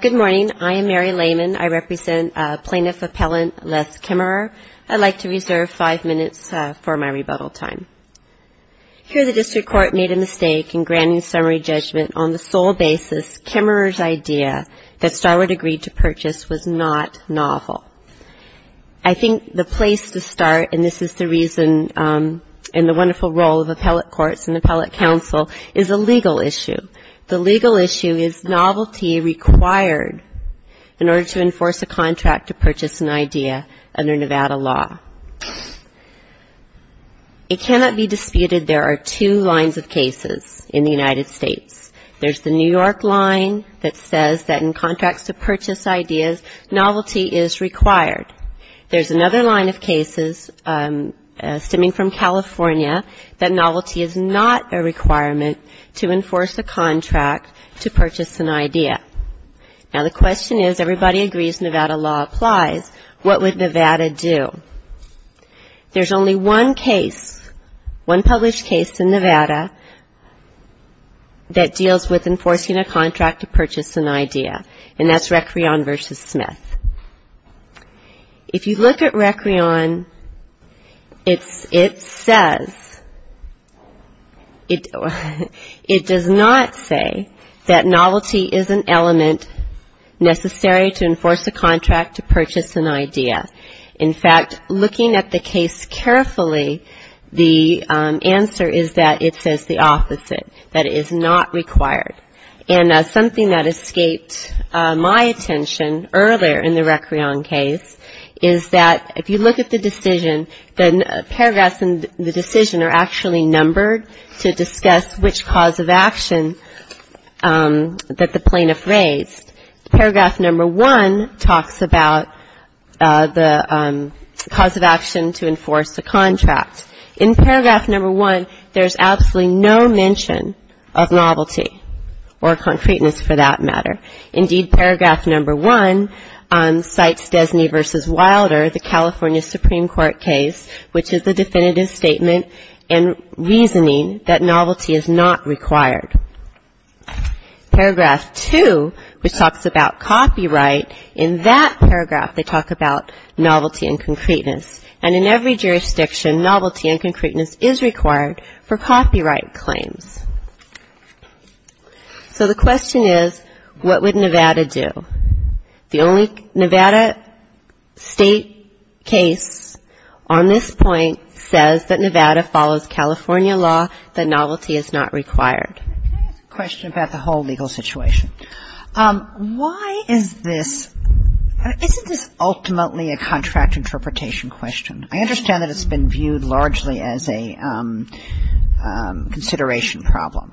Good morning. I am Mary Lehman. I represent Plaintiff Appellant Les Kimmerer. I'd like to reserve five minutes for my rebuttal time. Here the District Court made a mistake in granting summary judgment on the sole basis Kimmerer's idea that Starwood agreed to purchase was not novel. I think the place to start and this is the reason and the wonderful role of appellate courts and appellate counsel is a legal issue. The legal issue is novelty required in order to enforce a contract to purchase an idea under Nevada law. It cannot be disputed there are two lines of cases in the United States. There's the New York line that says that in contracts to purchase ideas novelty is required. There's another line of cases stemming from California that novelty is not a requirement to enforce a contract to purchase an idea. Now the question is everybody agrees Nevada law applies, what would Nevada do? There's only one case, one published case in Nevada that deals with enforcing a contract to purchase an idea and that's Recreon v. Beth. If you look at Recreon, it says, it does not say that novelty is an element necessary to enforce a contract to purchase an idea. In fact, looking at the case carefully, the answer is that it says the opposite, that it is not required. And something that escaped my attention earlier in the Recreon case is that if you look at the decision, the paragraphs in the decision are actually numbered to discuss which cause of action that the plaintiff raised. Paragraph number one talks about the cause of action to enforce a contract. In paragraph number one there's absolutely no mention of novelty or concreteness for that matter. Indeed paragraph number one cites Desney v. Wilder, the California Supreme Court case, which is the definitive statement and reasoning that novelty is not required. Paragraph two, which talks about copyright, in that paragraph they talk about novelty and concreteness. And in every jurisdiction novelty and concreteness is required for copyright claims. So the question is what would Nevada do? The only Nevada state case on this point says that Nevada follows California law that novelty is not required. Can I ask a question about the whole legal situation? Why is this, isn't this ultimately a contract interpretation question? I understand that it's been viewed largely as a consideration problem.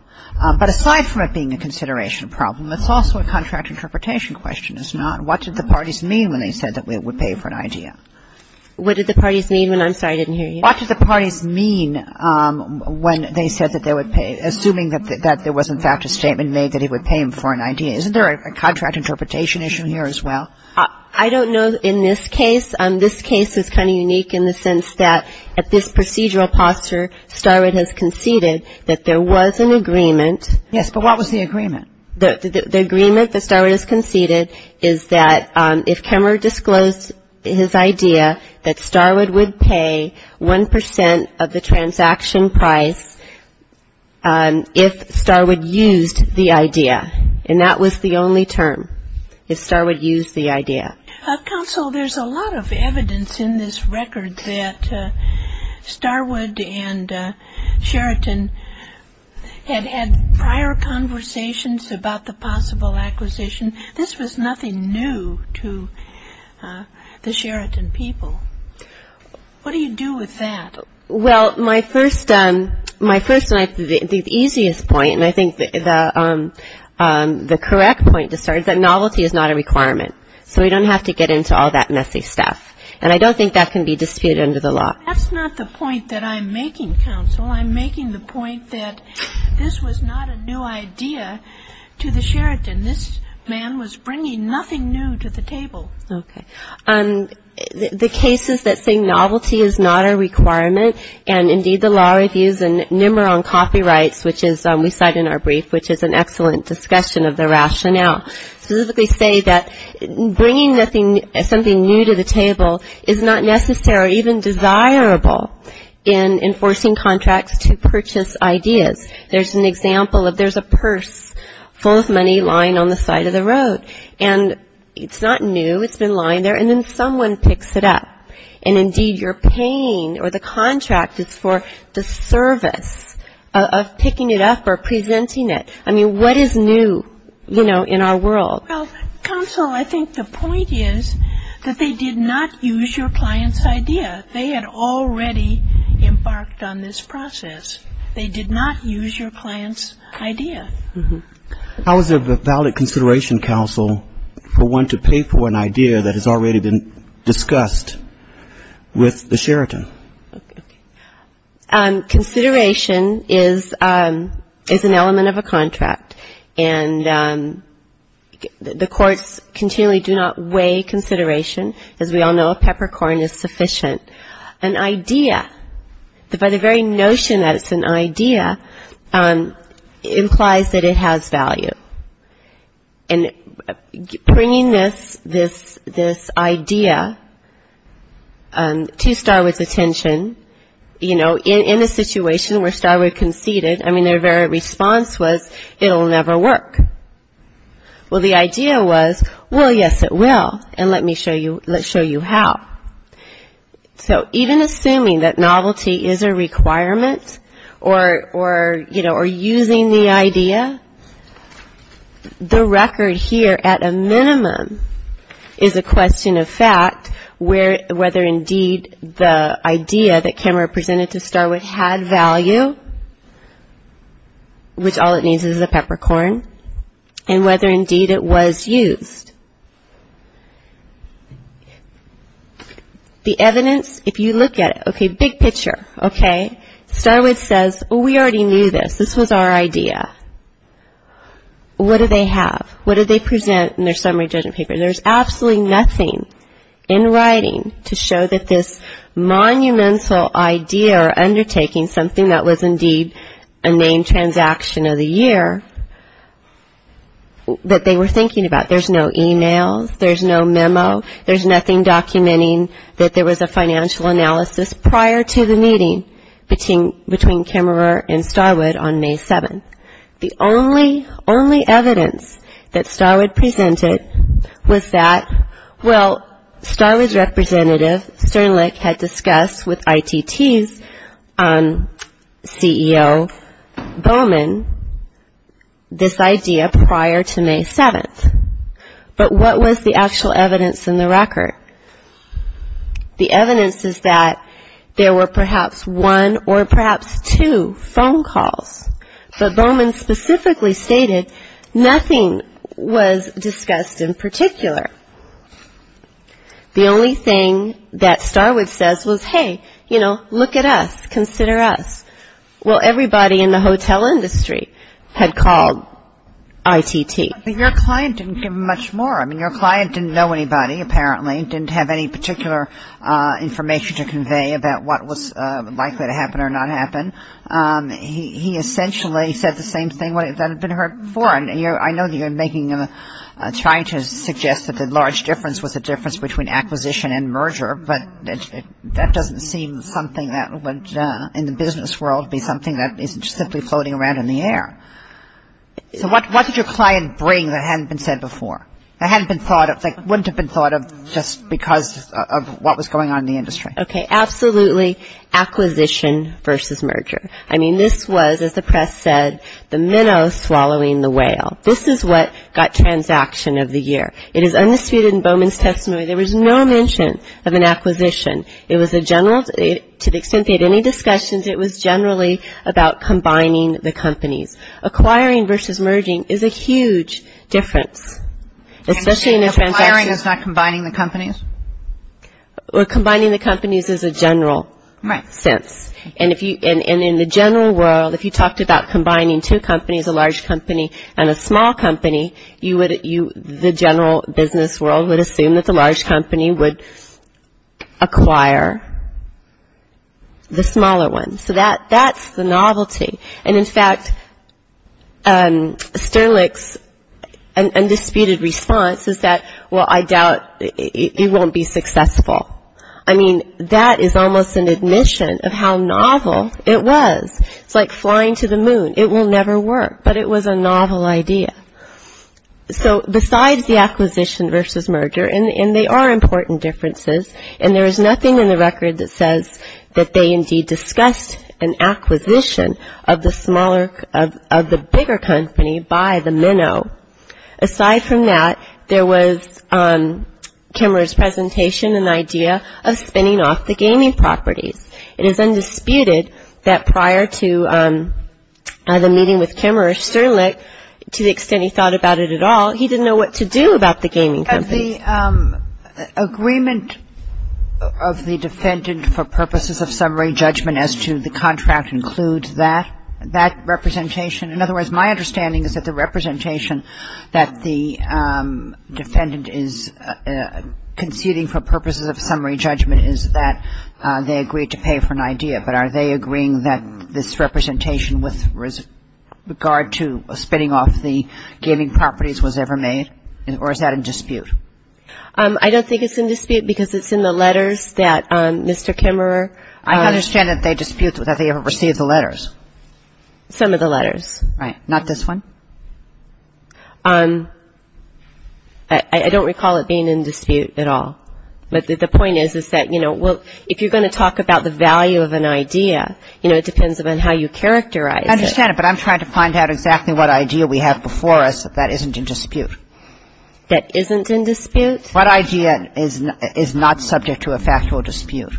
But aside from it being a consideration problem, it's also a contract interpretation question, is it not? What did the parties mean when they said that it would pay for an idea? What did the parties mean when I'm sorry, I didn't hear you. What did the parties mean when they said that they would pay, assuming that there was in fact a statement made that it would pay for an idea? Isn't there a contract interpretation issue here as well? I don't know in this case. This case is kind of unique in the sense that at this procedural posture, Starwood has conceded that there was an agreement. Yes, but what was the agreement? The agreement that Starwood has conceded is that if Kemmerer disclosed his idea that Starwood would pay 1% of the transaction price if Starwood used the idea. And that was the only term, if Starwood used the idea. Counsel, there's a lot of evidence in this record that Starwood and Sheraton had had prior conversations about the possible acquisition. This was nothing new to the Sheraton people. What do you do with that? Well, my first and I think the easiest point, and I think the correct point to start is that novelty is not a requirement. So we don't have to get into all that messy stuff. And I don't think that can be disputed under the law. That's not the point that I'm making, Counsel. I'm making the point that this was not a new idea to the Sheraton. This man was bringing nothing new to the table. The case is that saying novelty is not a requirement, and indeed the law reviews and nimmer on copyrights, which is we cite in our brief, which is an excellent discussion of the rationale, specifically say that bringing something new to the table is not necessary or even desirable in enforcing contracts to purchase ideas. There's an example of there's a purse full of money lying on the side of the road. And it's not new. It's been lying there. And then someone picks it up. And indeed you're paying or the contract is for the service of picking it up or presenting it. I mean, what is new, you know, in our world? Well, Counsel, I think the point is that they did not use your client's idea. They had already embarked on this process. They did not use your client's idea. How is it a valid consideration, Counsel, for one to pay for an idea that has already been discussed with the Sheraton? Consideration is an element of a contract. And the courts continually do not weigh consideration as we all know if peppercorn is sufficient. An idea, by the very notion that it's an idea, implies that it has value. And bringing this idea to Starwood's attention, you know, in a situation where Starwood conceded, I mean, their very response was, it'll never work. Well, the idea was, well, yes, it will. And let me show you how. So, even assuming that novelty is a requirement or, you know, or using the idea, the record here at a minimum is a question of fact, whether indeed the idea that Cameron presented to Starwood had value, which all it needs is the peppercorn, and whether indeed it was used. The evidence, if you look at it, okay, big picture, okay? Starwood says, well, we already knew this. This was our idea. What do they have? What did they present in their summary judgment paper? There's absolutely nothing in writing to show that this monumental idea or undertaking, something that was indeed a named transaction of the year, that they were thinking about. There's no e-mails. There's no memo. There's nothing documenting that there was a financial analysis prior to the meeting between Cameron and Starwood on May 7th. The only, only evidence that Starwood presented was that, well, Starwood's representative, Sternlich, had discussed with ITT's CEO, Bowman, this idea prior to May 7th. And, you know, that was the evidence. But what was the actual evidence in the record? The evidence is that there were perhaps one or perhaps two phone calls. But Bowman specifically stated nothing was discussed in particular. The only thing that Starwood says was, hey, you know, look at us, consider us. Well, everybody in the hotel industry had called ITT. But your client didn't give much more. I mean, your client didn't know anybody, apparently. He didn't have any particular information to convey about what was likely to happen or not happen. He essentially said the same thing that had been heard before. And I know you're making, trying to suggest that the large difference was the difference between acquisition and merger. But that doesn't seem something that would, in the business world, be something that is simply floating around in the air. So what did your client bring that hadn't been said before, that hadn't been thought of, that wouldn't have been thought of just because of what was going on in the industry? Okay, absolutely, acquisition versus merger. I mean, this was, as the press said, the minnow swallowing the whale. This is what got transaction of the year. It is undisputed in Bowman's testimony there was no mention of an acquisition. It was a general, to the extent they had any discussions, it was generally about combining the companies. Acquiring versus merging is a huge difference, especially in a transaction. Acquiring is not combining the companies? Or combining the companies is a general sense. And in the general world, if you talked about combining two companies, a large company and a small company, you would, the general business world would assume that the large company would acquire the smaller one. So that's the novelty. And in fact, Sterlick's undisputed response is that, well, I doubt it won't be successful. I mean, that is almost an admission of how novel it was. It's like flying to the moon. But it's not that. It's that there was no discussion of acquisition versus merger, and they are important differences. And there is nothing in the record that says that they indeed discussed an acquisition of the smaller, of the bigger company by the minnow. Aside from that, there was Kimmerer's presentation, an idea of spinning off the gaming properties. It is undisputed that prior to the meeting with Kimmerer, Sterlick, to the extent he thought about it at all, he didn't know what to do about the gaming company. The agreement of the defendant for purposes of summary judgment as to the contract includes that, that representation. In other words, my understanding is that the representation that the defendant is conceding for purposes of summary judgment is that they agreed to pay for an idea. But are they agreeing that this representation with regard to spinning off the gaming properties was ever made, or is that in dispute? I don't think it's in dispute because it's in the letters that Mr. Kimmerer I understand that they dispute that they ever received the letters. Some of the letters. Not this one? I don't recall it being in dispute at all. But the point is, is that, you know, if you're going to talk about the value of an idea, you know, it depends on how you characterize it. I understand it, but I'm trying to find out exactly what idea we have before us that isn't in dispute. That isn't in dispute? What idea is not subject to a factual dispute?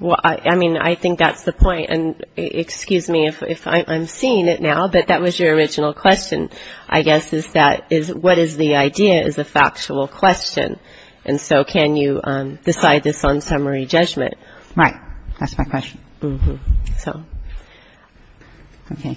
Well, I mean, I think that's the point. And excuse me if I'm seeing it now, but that was your original question, I guess, is that is what is the idea is a factual question. And so can you decide this on summary judgment? Right. That's my question. Mm-hmm. So, okay.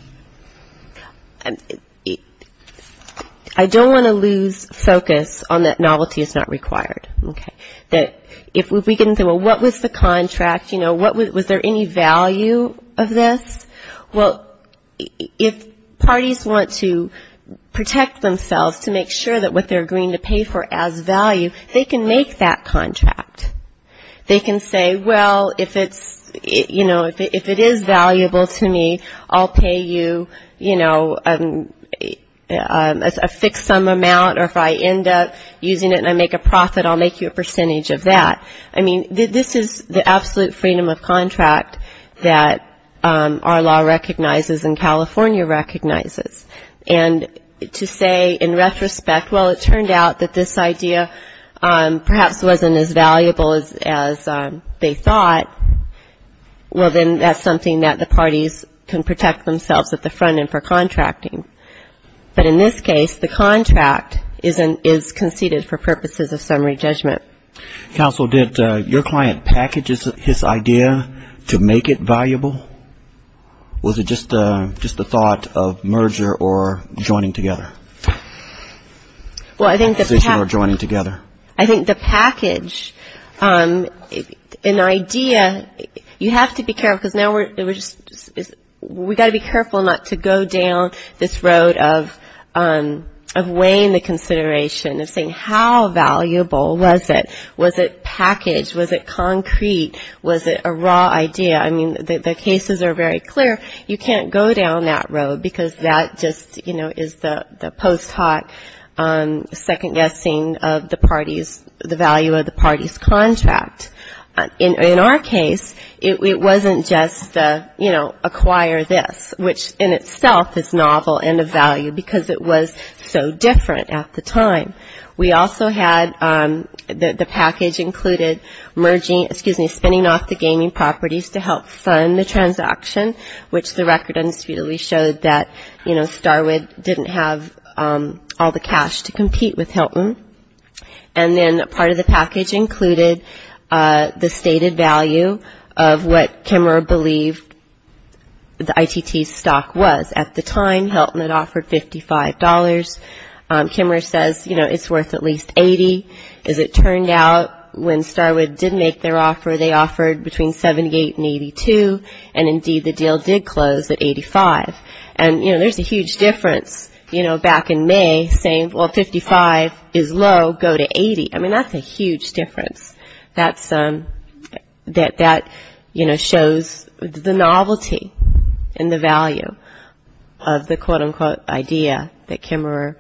I don't want to lose focus on that novelty is not required. Okay. That if we can say, well, what was the contract? You know, what was there any value of this? Well, if parties want to protect themselves to make sure that what they're agreeing to you know, if it is valuable to me, I'll pay you, you know, a fixed sum amount or if I end up using it and I make a profit, I'll make you a percentage of that. I mean, this is the absolute freedom of contract that our law recognizes and California recognizes. And to say in retrospect, well, it turned out that this idea perhaps wasn't as valuable as they thought, well, then that's something that the parties can protect themselves at the front end for contracting. But in this case, the contract is conceded for purposes of summary judgment. Counsel, did your client package his idea to make it valuable? Was it just the thought of merger or joining together? Well, I think the package. An idea, you have to be careful because now we're just, we got to be careful not to go down this road of weighing the consideration of saying how valuable was it? Was it packaged? Was it concrete? Was it a raw idea? I mean, the cases are very clear. You can't go down that road because that just, you know, is the post hoc second guessing of the parties, the value of the party's contract. In our case, it wasn't just the, you know, acquire this, which in itself is novel and of value because it was so different at the time. We also had the package included merging, excuse me, spinning off the gaming properties to help fund the transaction, which the record undisputedly showed that, you know, Starwood didn't have all the cash to compete with Hilton. And then part of the package included the stated value of what Kimmerer believed the ITT's stock was. At the time, Hilton had offered $55. Kimmerer says, you know, it's worth at least $80. As it turned out, when Starwood did make their offer, they offered between $78 and $82, and indeed the deal did close at $85. And, you know, there's a huge difference, you know, back in May saying, well, $55 is low, go to $80. I mean, that's a huge difference. That, you know, shows the novelty and the value of the, quote, unquote, idea that Kimmerer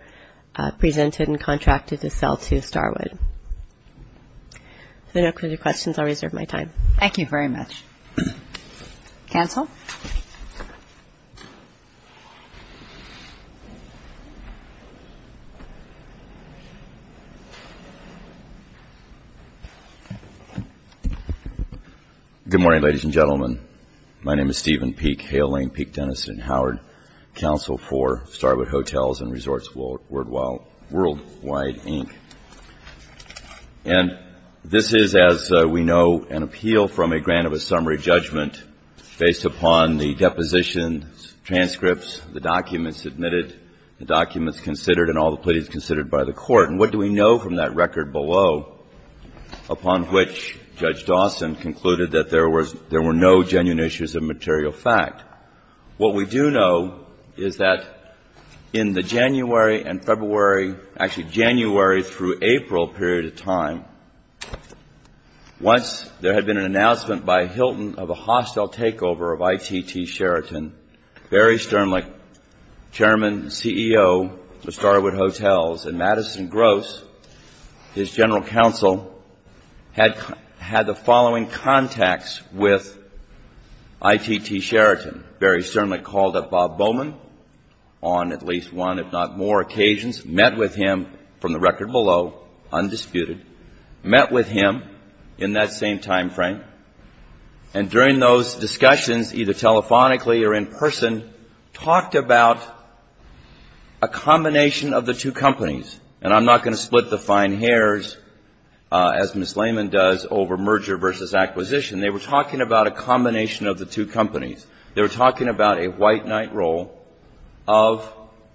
presented and contracted to sell to Starwood. So no further questions. I'll reserve my time. Thank you very much. Counsel? Good morning, ladies and gentlemen. My name is Stephen Peek, Hale Lane Peek Dentist at Howard Counsel for Starwood Hotels and Resorts Worldwide, Inc. And this is, as we know, an appeal from a grant of a summary judgment based upon the depositions, transcripts, the documents submitted, the documents considered, and all the pleas considered by the Court. And what do we know from that record below, upon which Judge Dawson concluded that there were no genuine issues of material fact? What we do know is that in the January and February, actually January through April period of time, once there had been an announcement by Hilton of a hostile takeover of ITT Sheraton, Barry Sternlich, Chairman and CEO of Starwood Hotels and Madison Gross, his general counsel, had the following contacts with ITT Sheraton. Barry Sternlich called up Bob Bowman on at least one, if not more, occasions, met with him from the record below, undisputed, met with him in that same time frame, and during those discussions, either telephonically or in person, talked about a combination of the two companies. And I'm not going to split the fine hairs, as Ms. Lehman does, over merger versus acquisition. They were talking about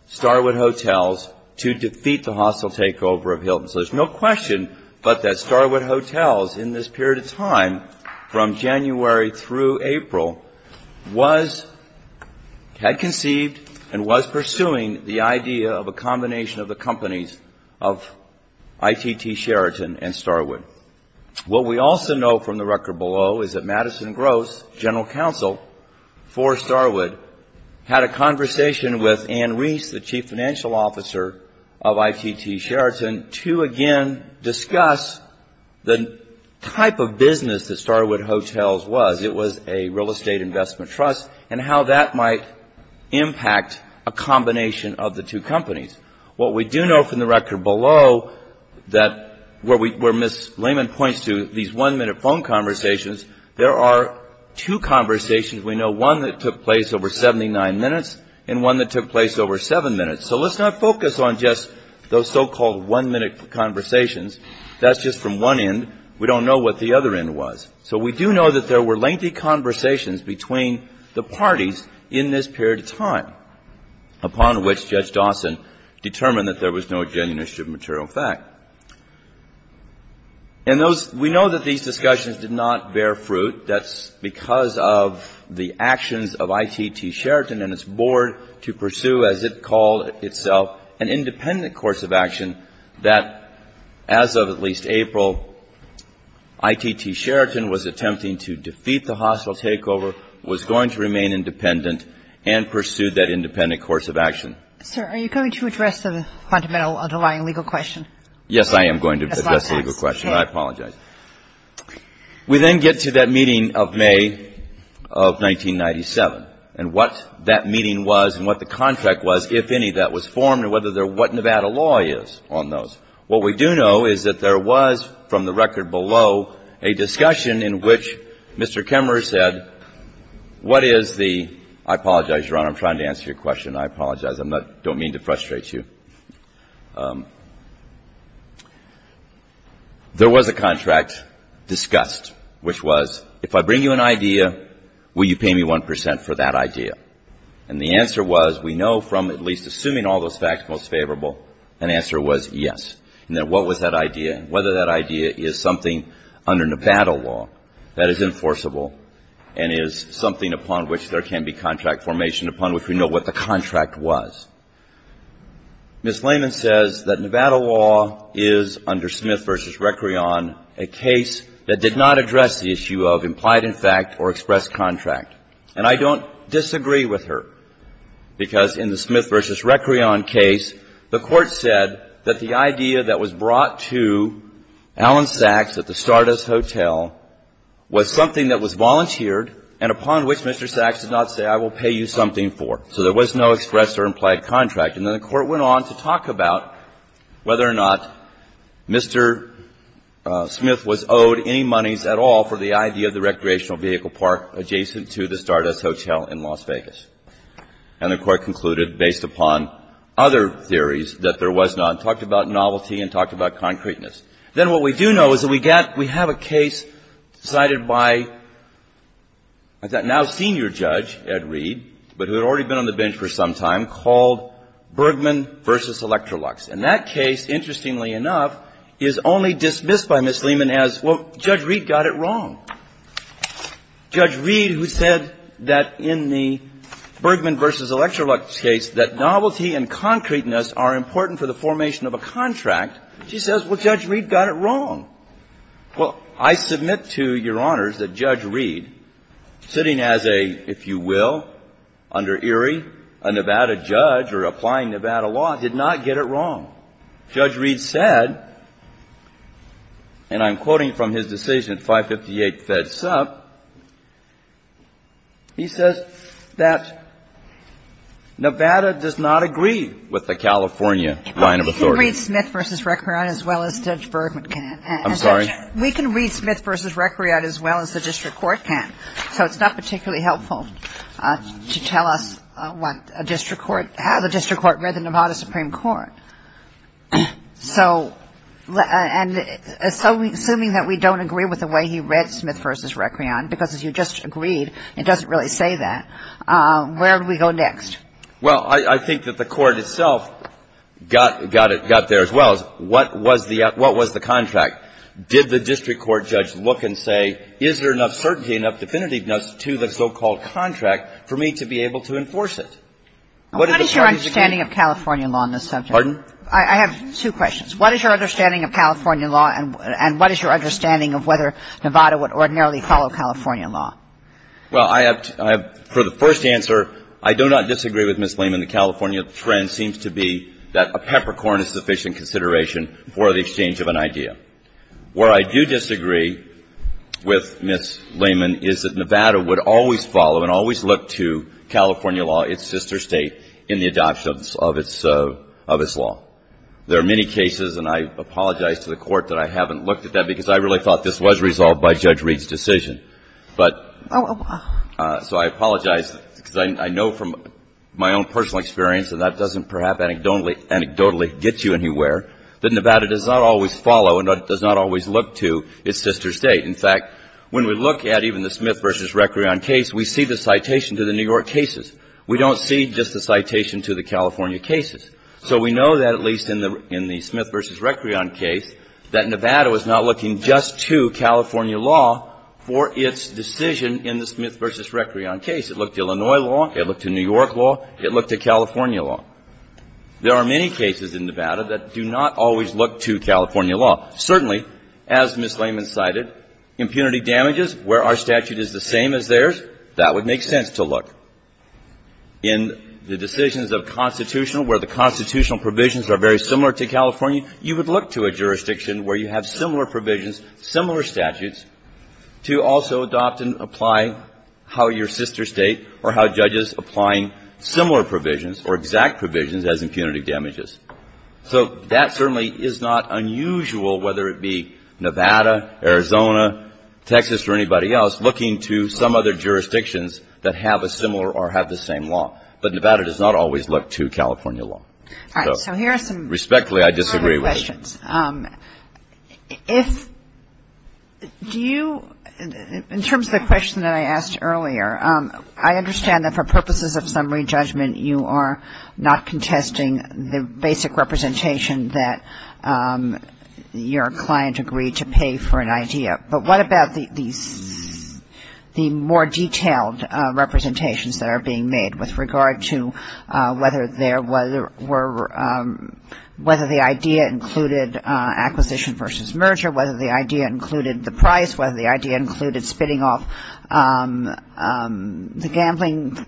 Starwood Hotels to defeat the hostile takeover of Hilton. So there's no question but that Starwood Hotels in this period of time, from January through April, was, had conceived and was pursuing the idea of a combination of the companies of ITT Sheraton and Starwood. What we also know from the record below is that Madison Gross, general counsel for Starwood, had a conversation with Ann Reese, the chief financial officer of ITT Sheraton, to again discuss the type of business that Starwood Hotels was. It was a real estate investment trust and how that might impact a combination of the two companies. What we do know from the record below that where Ms. Lehman points to these one-minute phone conversations, there are two conversations we know, one that took place over 79 minutes and one that took place over 7 minutes. So let's not focus on just those so-called one-minute conversations. That's just from one end. We don't know what the other end was. So we do know that there were lengthy conversations between the parties in this period of time, upon which Judge Dawson determined that there was no genuine issue of material fact. And those we know that these discussions did not bear fruit. That's because of the actions of ITT Sheraton and its board to pursue, as it called itself, an independent course of action that, as of at least April, ITT Sheraton was attempting to defeat the hostile takeover, was going to remain independent and pursue that independent course of action. Kagan. Sir, are you going to address the fundamental underlying legal question? Yes, I am going to address the legal question. Okay. I apologize. We then get to that meeting of May of 1997 and what that meeting was and what the contract was, if any, that was formed and whether there was Nevada law is on those. What we do know is that there was, from the record below, a discussion in which Mr. Kemmerer said what is the — I apologize, Your Honor. I'm trying to answer your question. I apologize. I don't mean to frustrate you. There was a contract discussed which was if I bring you an idea, will you pay me 1 percent for that idea? And the answer was, we know from at least assuming all those facts most favorable, an answer was yes. And then what was that idea? Whether that idea is something under Nevada law that is enforceable and is something upon which there can be contract formation upon which we know what the contract was. Ms. Lehman says that Nevada law is, under Smith v. Recreon, a case that did not address the issue of implied in fact or expressed contract. And I don't disagree with her, because in the Smith v. Recreon case, the Court said that the idea that was brought to Alan Sachs at the Stardust Hotel was something that was volunteered and upon which Mr. Sachs did not say I will pay you something for. So there was no expressed or implied contract. And then the Court went on to talk about whether or not Mr. Smith was owed any monies at all for the idea of the recreational vehicle park adjacent to the Stardust Hotel in Las Vegas. And the Court concluded, based upon other theories, that there was not. Talked about novelty and talked about concreteness. Then what we do know is that we have a case decided by that now senior judge, Ed Reed, but who had already been on the bench for some time, called Bergman v. Electrolux. And that case, interestingly enough, is only dismissed by Ms. Lehman as, well, Judge Reed got it wrong. Judge Reed, who said that in the Bergman v. Electrolux case that novelty and concreteness are important for the formation of a contract, she says, well, Judge Reed got it wrong. Well, I submit to Your Honors that Judge Reed, sitting as a, if you will, under Erie, a Nevada judge or applying Nevada law, did not get it wrong. Judge Reed said, and I'm quoting from his decision at 558 Fed Sup, he says that Nevada does not agree with the California line of authority. But we can read Smith v. Recreon as well as Judge Bergman can. I'm sorry? We can read Smith v. Recreon as well as the District Court can. So it's not particularly helpful to tell us what a District Court, how the District Court read the Nevada Supreme Court. So, and assuming that we don't agree with the way he read Smith v. Recreon, because as you just agreed, it doesn't really say that, where do we go next? Well, I think that the Court itself got there as well. What was the contract? Did the District Court judge look and say, is there enough certainty, enough definitiveness to the so-called contract for me to be able to enforce it? What is your understanding of California law on this subject? Pardon? I have two questions. What is your understanding of California law and what is your understanding of whether Nevada would ordinarily follow California law? Well, I have, for the first answer, I do not disagree with Ms. Lehman. The California trend seems to be that a peppercorn is sufficient consideration for the exchange of an idea. Where I do disagree with Ms. Lehman is that Nevada would always follow and always look to California law, its sister state, in the adoption of its law. There are many cases, and I apologize to the Court that I haven't looked at that because I really thought this was resolved by Judge Reed's decision. But so I apologize because I know from my own personal experience, and that doesn't perhaps anecdotally get you anywhere, that Nevada does not always follow and does not always look to its sister state. In fact, when we look at even the Smith v. Recreon case, we see the citation to the New York cases. We don't see just the citation to the California cases. So we know that, at least in the Smith v. Recreon case, that Nevada was not looking just to California law for its decision in the Smith v. Recreon case. It looked to Illinois law, it looked to New York law, it looked to California law. There are many cases in Nevada that do not always look to California law. Certainly, as Ms. Lehman cited, impunity damages, where our statute is the same as theirs, that would make sense to look. In the decisions of constitutional, where the constitutional provisions are very similar to California, you would look to a jurisdiction where you have similar provisions, similar statutes, to also adopt and apply how your sister state or how judges applying similar provisions or exact provisions as impunity damages. So that certainly is not unusual, whether it be Nevada, Arizona, Texas, or anybody else, looking to some other jurisdictions that have a similar or have the same law. But Nevada does not always look to California law. So respectfully, I disagree with you. If you do, in terms of the question that I asked earlier, I understand that for purposes of summary judgment, you are not contesting the basic representation that your client agreed to pay for an idea. But what about the more detailed representations that are being made with regard to whether there were, whether the idea included acquisition versus merger, whether the idea included the price, whether the idea included spitting off the gambling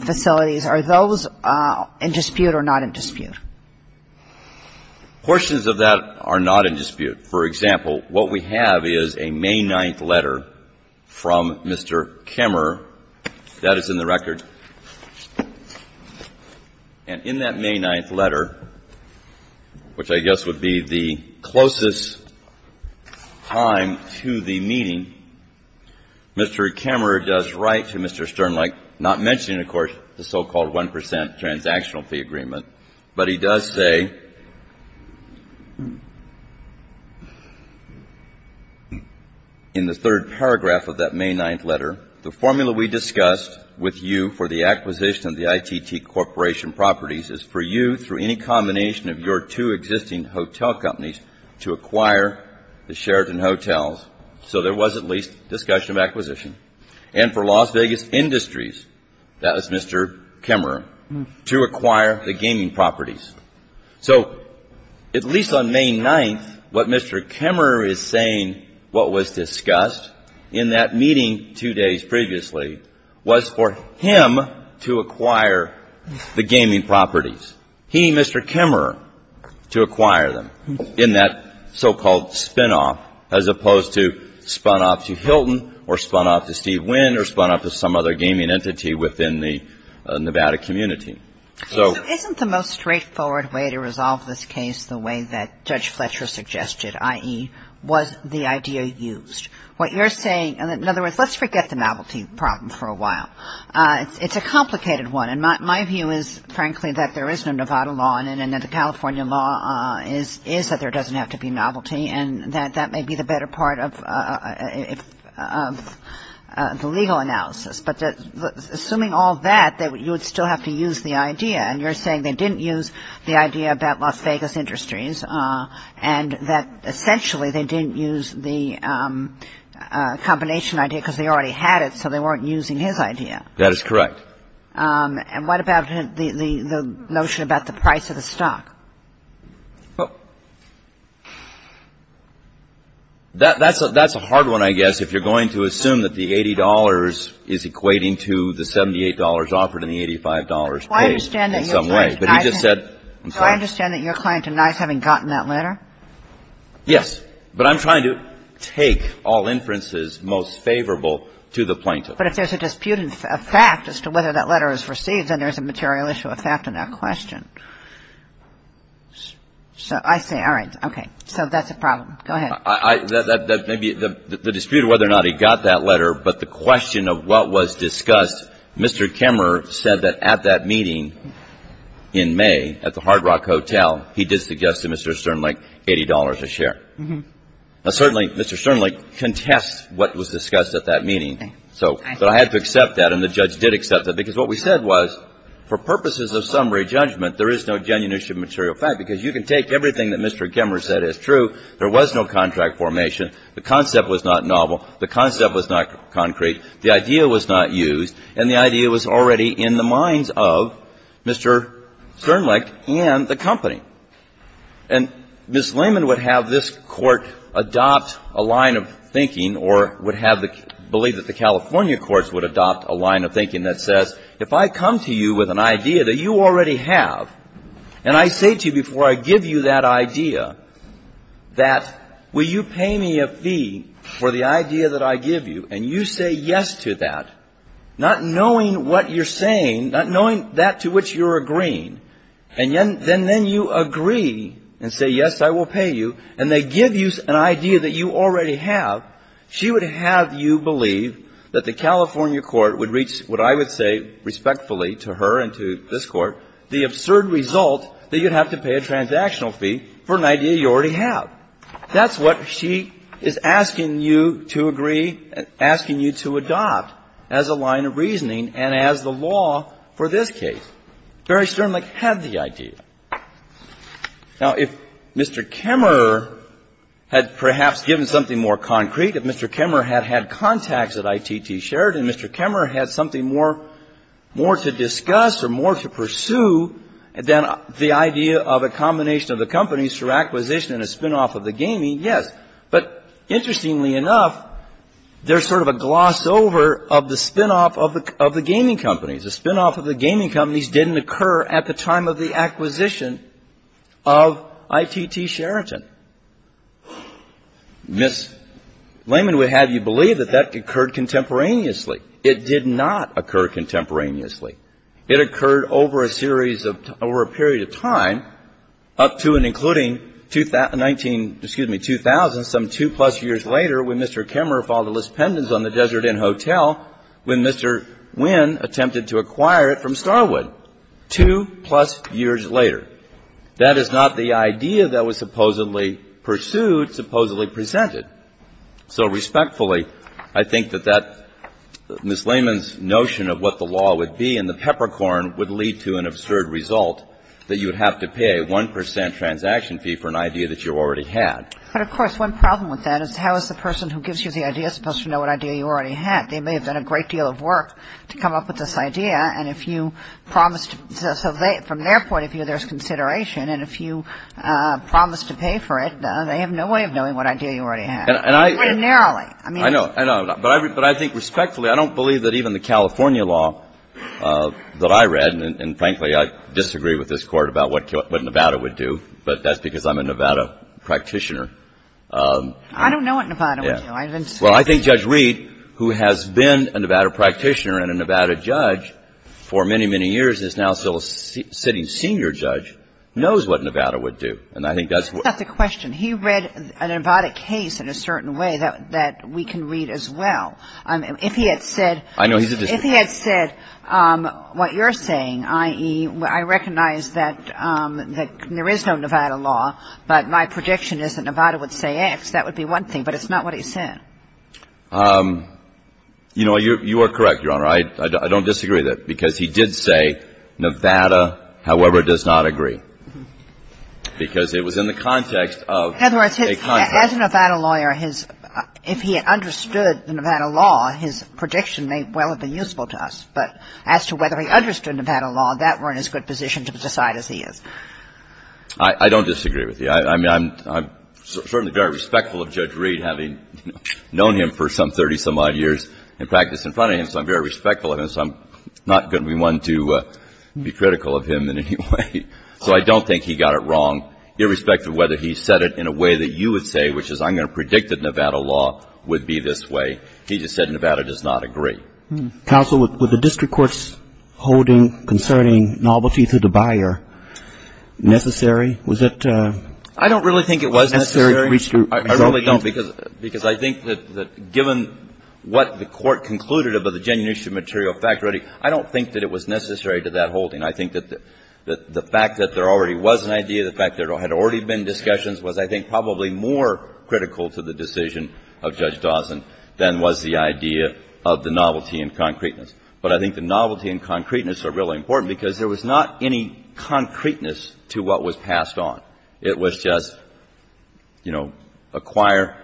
facilities, are those in dispute or not in dispute? Portions of that are not in dispute. For example, what we have is a May 9th letter from Mr. Kemmerer. That is in the record. And in that May 9th letter, which I guess would be the closest time to the meeting, Mr. Kemmerer does write to Mr. Sternlich, not mentioning, of course, the so-called 1 percent transactional fee agreement, but he does say in the third paragraph of that for the acquisition of the ITT Corporation properties is for you, through any combination of your two existing hotel companies, to acquire the Sheraton Hotels. So there was at least discussion of acquisition. And for Las Vegas Industries, that was Mr. Kemmerer, to acquire the gaming properties. So at least on May 9th, what Mr. Kemmerer is saying, what was discussed in that meeting two days previously, was for him to acquire the gaming properties, he, Mr. Kemmerer, to acquire them in that so-called spinoff, as opposed to spun-off to Hilton or spun-off to Steve Wynn or spun-off to some other gaming entity within the Nevada community. So isn't the most straightforward way to resolve this case the way that Judge Fletcher suggested, i.e., was the idea used? What you're saying, in other words, let's forget the novelty problem for a while. It's a complicated one. And my view is, frankly, that there is no Nevada law in it and that the California law is that there doesn't have to be novelty and that that may be the better part of the legal analysis. But assuming all that, you would still have to use the idea. And you're saying they didn't use the idea about Las Vegas Industries and that essentially they didn't use the combination idea because they already had it, so they weren't using his idea. That is correct. And what about the notion about the price of the stock? Well, that's a hard one, I guess, if you're going to assume that the $80 is equating to the $78 offered and the $85 paid in some way. I'm sorry. So I understand that your client denies having gotten that letter? Yes. But I'm trying to take all inferences most favorable to the plaintiff. But if there's a dispute of fact as to whether that letter is received, then there's a material issue of fact in that question. So I say, all right. Okay. So that's a problem. Go ahead. The dispute of whether or not he got that letter, but the question of what was discussed, Mr. Kemmerer said that at that meeting in May at the Hard Rock Hotel, he did suggest to Mr. Sternlick $80 a share. Mm-hmm. Now, certainly, Mr. Sternlick contests what was discussed at that meeting. So I had to accept that, and the judge did accept that, because what we said was for purposes of summary judgment, there is no genuine issue of material fact, because you can take everything that Mr. Kemmerer said as true. There was no contract formation. The concept was not novel. The concept was not concrete. The idea was not used. And the idea was already in the minds of Mr. Sternlick and the company. And Ms. Lehman would have this Court adopt a line of thinking or would have the – believe that the California courts would adopt a line of thinking that says, if I come to you with an idea that you already have, and I say to you before I give you that idea that, will you pay me a fee for the idea that I give you, and you say yes to that, not knowing what you're saying, not knowing that to which you're agreeing, and then you agree and say, yes, I will pay you, and they give you an idea that you already have, she would have you believe that the California court would reach what I would say respectfully to her and to this Court, the absurd result that you'd have to pay a transactional fee for an idea you already have. That's what she is asking you to agree, asking you to adopt as a line of reasoning and as the law for this case. Barry Sternlick had the idea. Now, if Mr. Kemmerer had perhaps given something more concrete, if Mr. Kemmerer had had contacts at ITT Sheraton, Mr. Kemmerer had something more to discuss or more to pursue than the idea of a combination of the companies for acquisition and a spinoff of the gaming, yes. But interestingly enough, there's sort of a gloss over of the spinoff of the gaming companies. The spinoff of the gaming companies didn't occur at the time of the acquisition of ITT Sheraton. Ms. Lehman would have you believe that that occurred contemporaneously. It did not occur contemporaneously. It occurred over a series of — over a period of time, up to and including 19 — excuse me, 2000, some two-plus years later when Mr. Kemmerer filed a list on the Desert Inn Hotel when Mr. Wynn attempted to acquire it from Starwood, two-plus years later. That is not the idea that was supposedly pursued, supposedly presented. So respectfully, I think that that — Ms. Lehman's notion of what the law would be and the peppercorn would lead to an absurd result that you would have to pay a 1 percent transaction fee for an idea that you already had. But, of course, one problem with that is how is the person who gives you the idea supposed to know what idea you already had? They may have done a great deal of work to come up with this idea, and if you promised — so they — from their point of view, there's consideration, and if you promise to pay for it, they have no way of knowing what idea you already had. And I — Quite narrowly. I mean — I know. I know. But I think respectfully, I don't believe that even the California law that I read — and, frankly, I disagree with this Court about what Nevada would do, but that's because I'm a Nevada practitioner. I don't know what Nevada would do. Well, I think Judge Reed, who has been a Nevada practitioner and a Nevada judge for many, many years and is now still a sitting senior judge, knows what Nevada would do. And I think that's — That's a question. He read a Nevada case in a certain way that we can read as well. If he had said — I know he's a — If he had said what you're saying, i.e., I recognize that there is no Nevada law, but my prediction is that Nevada would say X, that would be one thing, but it's not what he said. You know, you are correct, Your Honor. I don't disagree with that, because he did say Nevada, however, does not agree, because it was in the context of a contract. In other words, as a Nevada lawyer, his — if he had understood the Nevada law, his I don't disagree with you. I mean, I'm — I'm certainly very respectful of Judge Reed, having known him for some 30-some-odd years and practiced in front of him, so I'm very respectful of him, so I'm not going to be one to be critical of him in any way. So I don't think he got it wrong, irrespective of whether he said it in a way that you would say, which is I'm going to predict that Nevada law would be this way. He just said Nevada does not agree. Counsel, was the district court's holding concerning novelty to the buyer necessary? Was that necessary? I don't really think it was necessary. I really don't, because I think that given what the court concluded about the genuine issue of material fact-reading, I don't think that it was necessary to that holding. I think that the fact that there already was an idea, the fact that there had already been discussions was, I think, probably more critical to the decision of Judge Dawson than was the idea of the novelty and concreteness. But I think the novelty and concreteness are really important, because there was not any concreteness to what was passed on. It was just, you know, acquire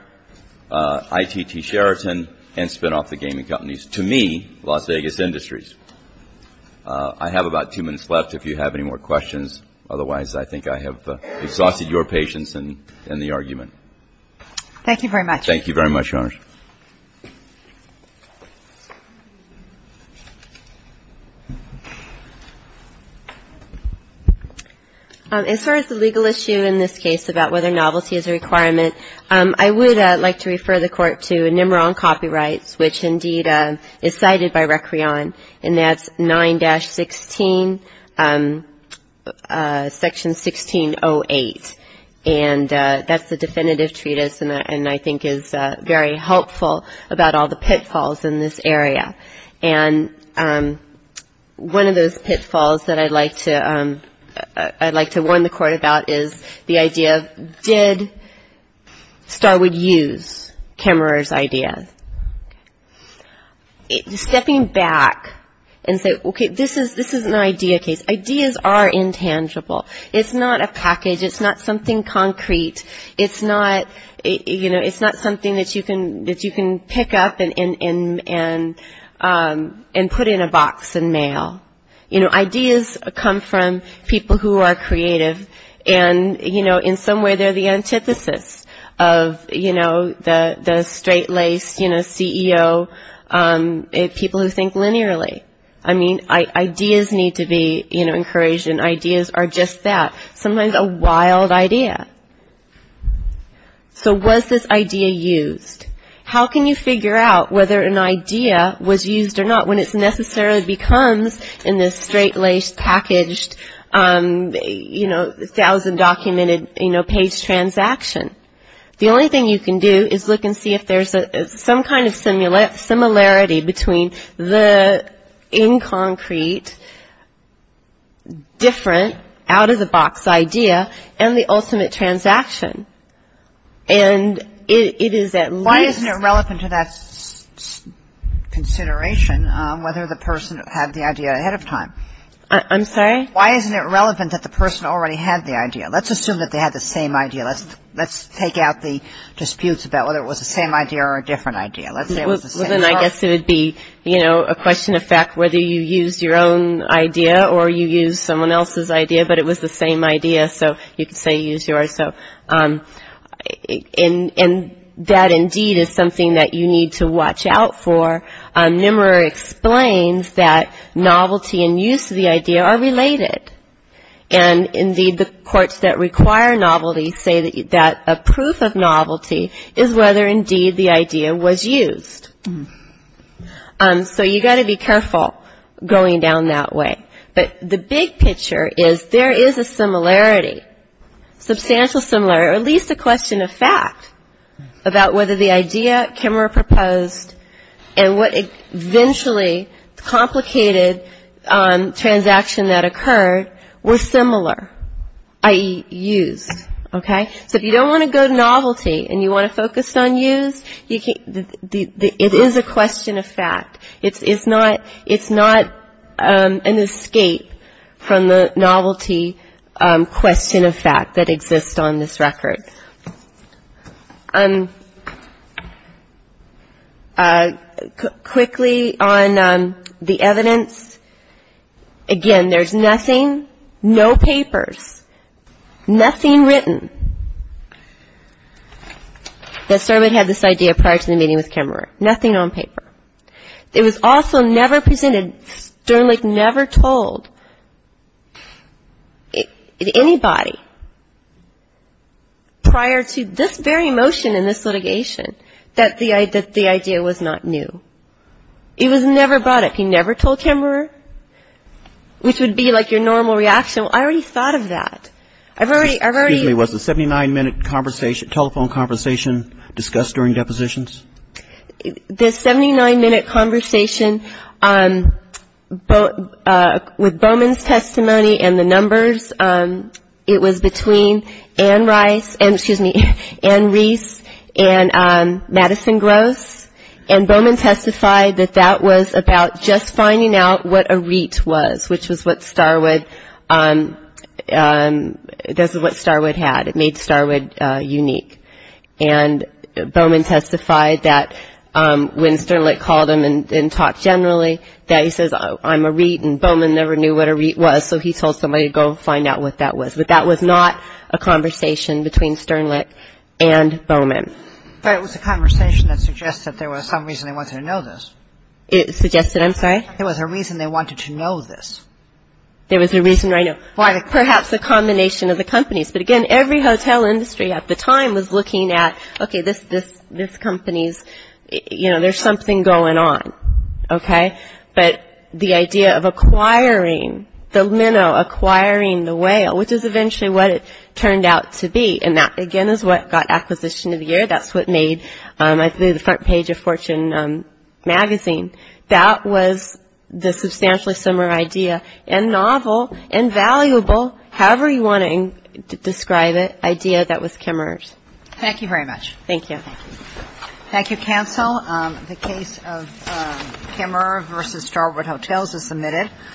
ITT Sheraton and spin off the gaming companies. To me, Las Vegas Industries. I have about two minutes left, if you have any more questions. Otherwise, I think I have exhausted your patience in the argument. Thank you very much. Thank you very much, Your Honor. As far as the legal issue in this case about whether novelty is a requirement, I would like to refer the Court to Nimiron Copyrights, which, indeed, is cited by Recreon, and that's 9-16, Section 1608. And that's the definitive treatise, and I think is very helpful about all the pitfalls in this area. And one of those pitfalls that I'd like to warn the Court about is the idea of did Starwood use Kammerer's idea? Stepping back and say, okay, this is an idea case. Ideas are intangible. It's not a package. It's not something concrete. It's not something that you can pick up and put in a box and mail. You know, ideas come from people who are creative, and, you know, in some way, they're the antithesis of, you know, the straight-laced, you know, CEO, people who think linearly. I mean, ideas need to be, you know, encouraged, and ideas are just that. Sometimes a wild idea. So was this idea used? How can you figure out whether an idea was used or not when it necessarily becomes in this straight-laced, packaged, you know, thousand-documented, you know, page transaction? The only thing you can do is look and see if there's some kind of similarity between the in-concrete, different, out-of-the-box idea and the ultimate transaction. And it is at least... Why isn't it relevant to that consideration whether the person had the idea ahead of time? I'm sorry? Why isn't it relevant that the person already had the idea? Let's assume that they had the same idea. Let's take out the disputes about whether it was the same idea or a different idea. Let's say it was the same idea. Well, then I guess it would be, you know, a question of fact whether you used your own idea or you used someone else's idea, but it was the same idea. So you could say you used yours. And that, indeed, is something that you need to watch out for. NMRA explains that novelty and use of the idea are related. And, indeed, the courts that require novelty say that a proof of novelty is whether, indeed, the idea was used. So you've got to be careful going down that way. But the big picture is there is a similarity, substantial similarity, or at least a question of fact about whether the idea NMRA proposed and what eventually complicated transaction that occurred were similar, i.e., used. Okay? So if you don't want to go to novelty and you want to focus on used, it is a question of fact. It's not an escape from the novelty question of fact that exists on this record. Okay. Quickly on the evidence. Again, there's nothing, no papers, nothing written, that certainly had this idea prior to the meeting with Kemmerer. Nothing on paper. It was also never presented. Sternlich never told anybody prior to this very motion in this litigation that the idea was not new. It was never brought up. He never told Kemmerer, which would be like your normal reaction. Well, I already thought of that. I've already ---- Excuse me. Was the 79-minute telephone conversation discussed during depositions? The 79-minute conversation, with Bowman's testimony and the numbers, it was between Ann Rice and Madison Gross, and Bowman testified that that was about just finding out what a REIT was, which was what Starwood had. It made Starwood unique. And Bowman testified that when Sternlich called him and talked generally, that he says, I'm a REIT, and Bowman never knew what a REIT was, so he told somebody to go find out what that was. But that was not a conversation between Sternlich and Bowman. But it was a conversation that suggested there was some reason they wanted to know this. It suggested, I'm sorry? There was a reason they wanted to know this. There was a reason why, perhaps a combination of the companies. But, again, every hotel industry at the time was looking at, okay, this company's, you know, there's something going on, okay? But the idea of acquiring the minnow, acquiring the whale, which is eventually what it turned out to be, and that, again, is what got acquisition of the year. That's what made the front page of Fortune magazine. That was the substantially similar idea, and novel and valuable, however you want to describe it, idea that was Kimmerer's. Thank you very much. Thank you. Thank you. Thank you, counsel. The case of Kimmerer v. Starboard Hotels is submitted.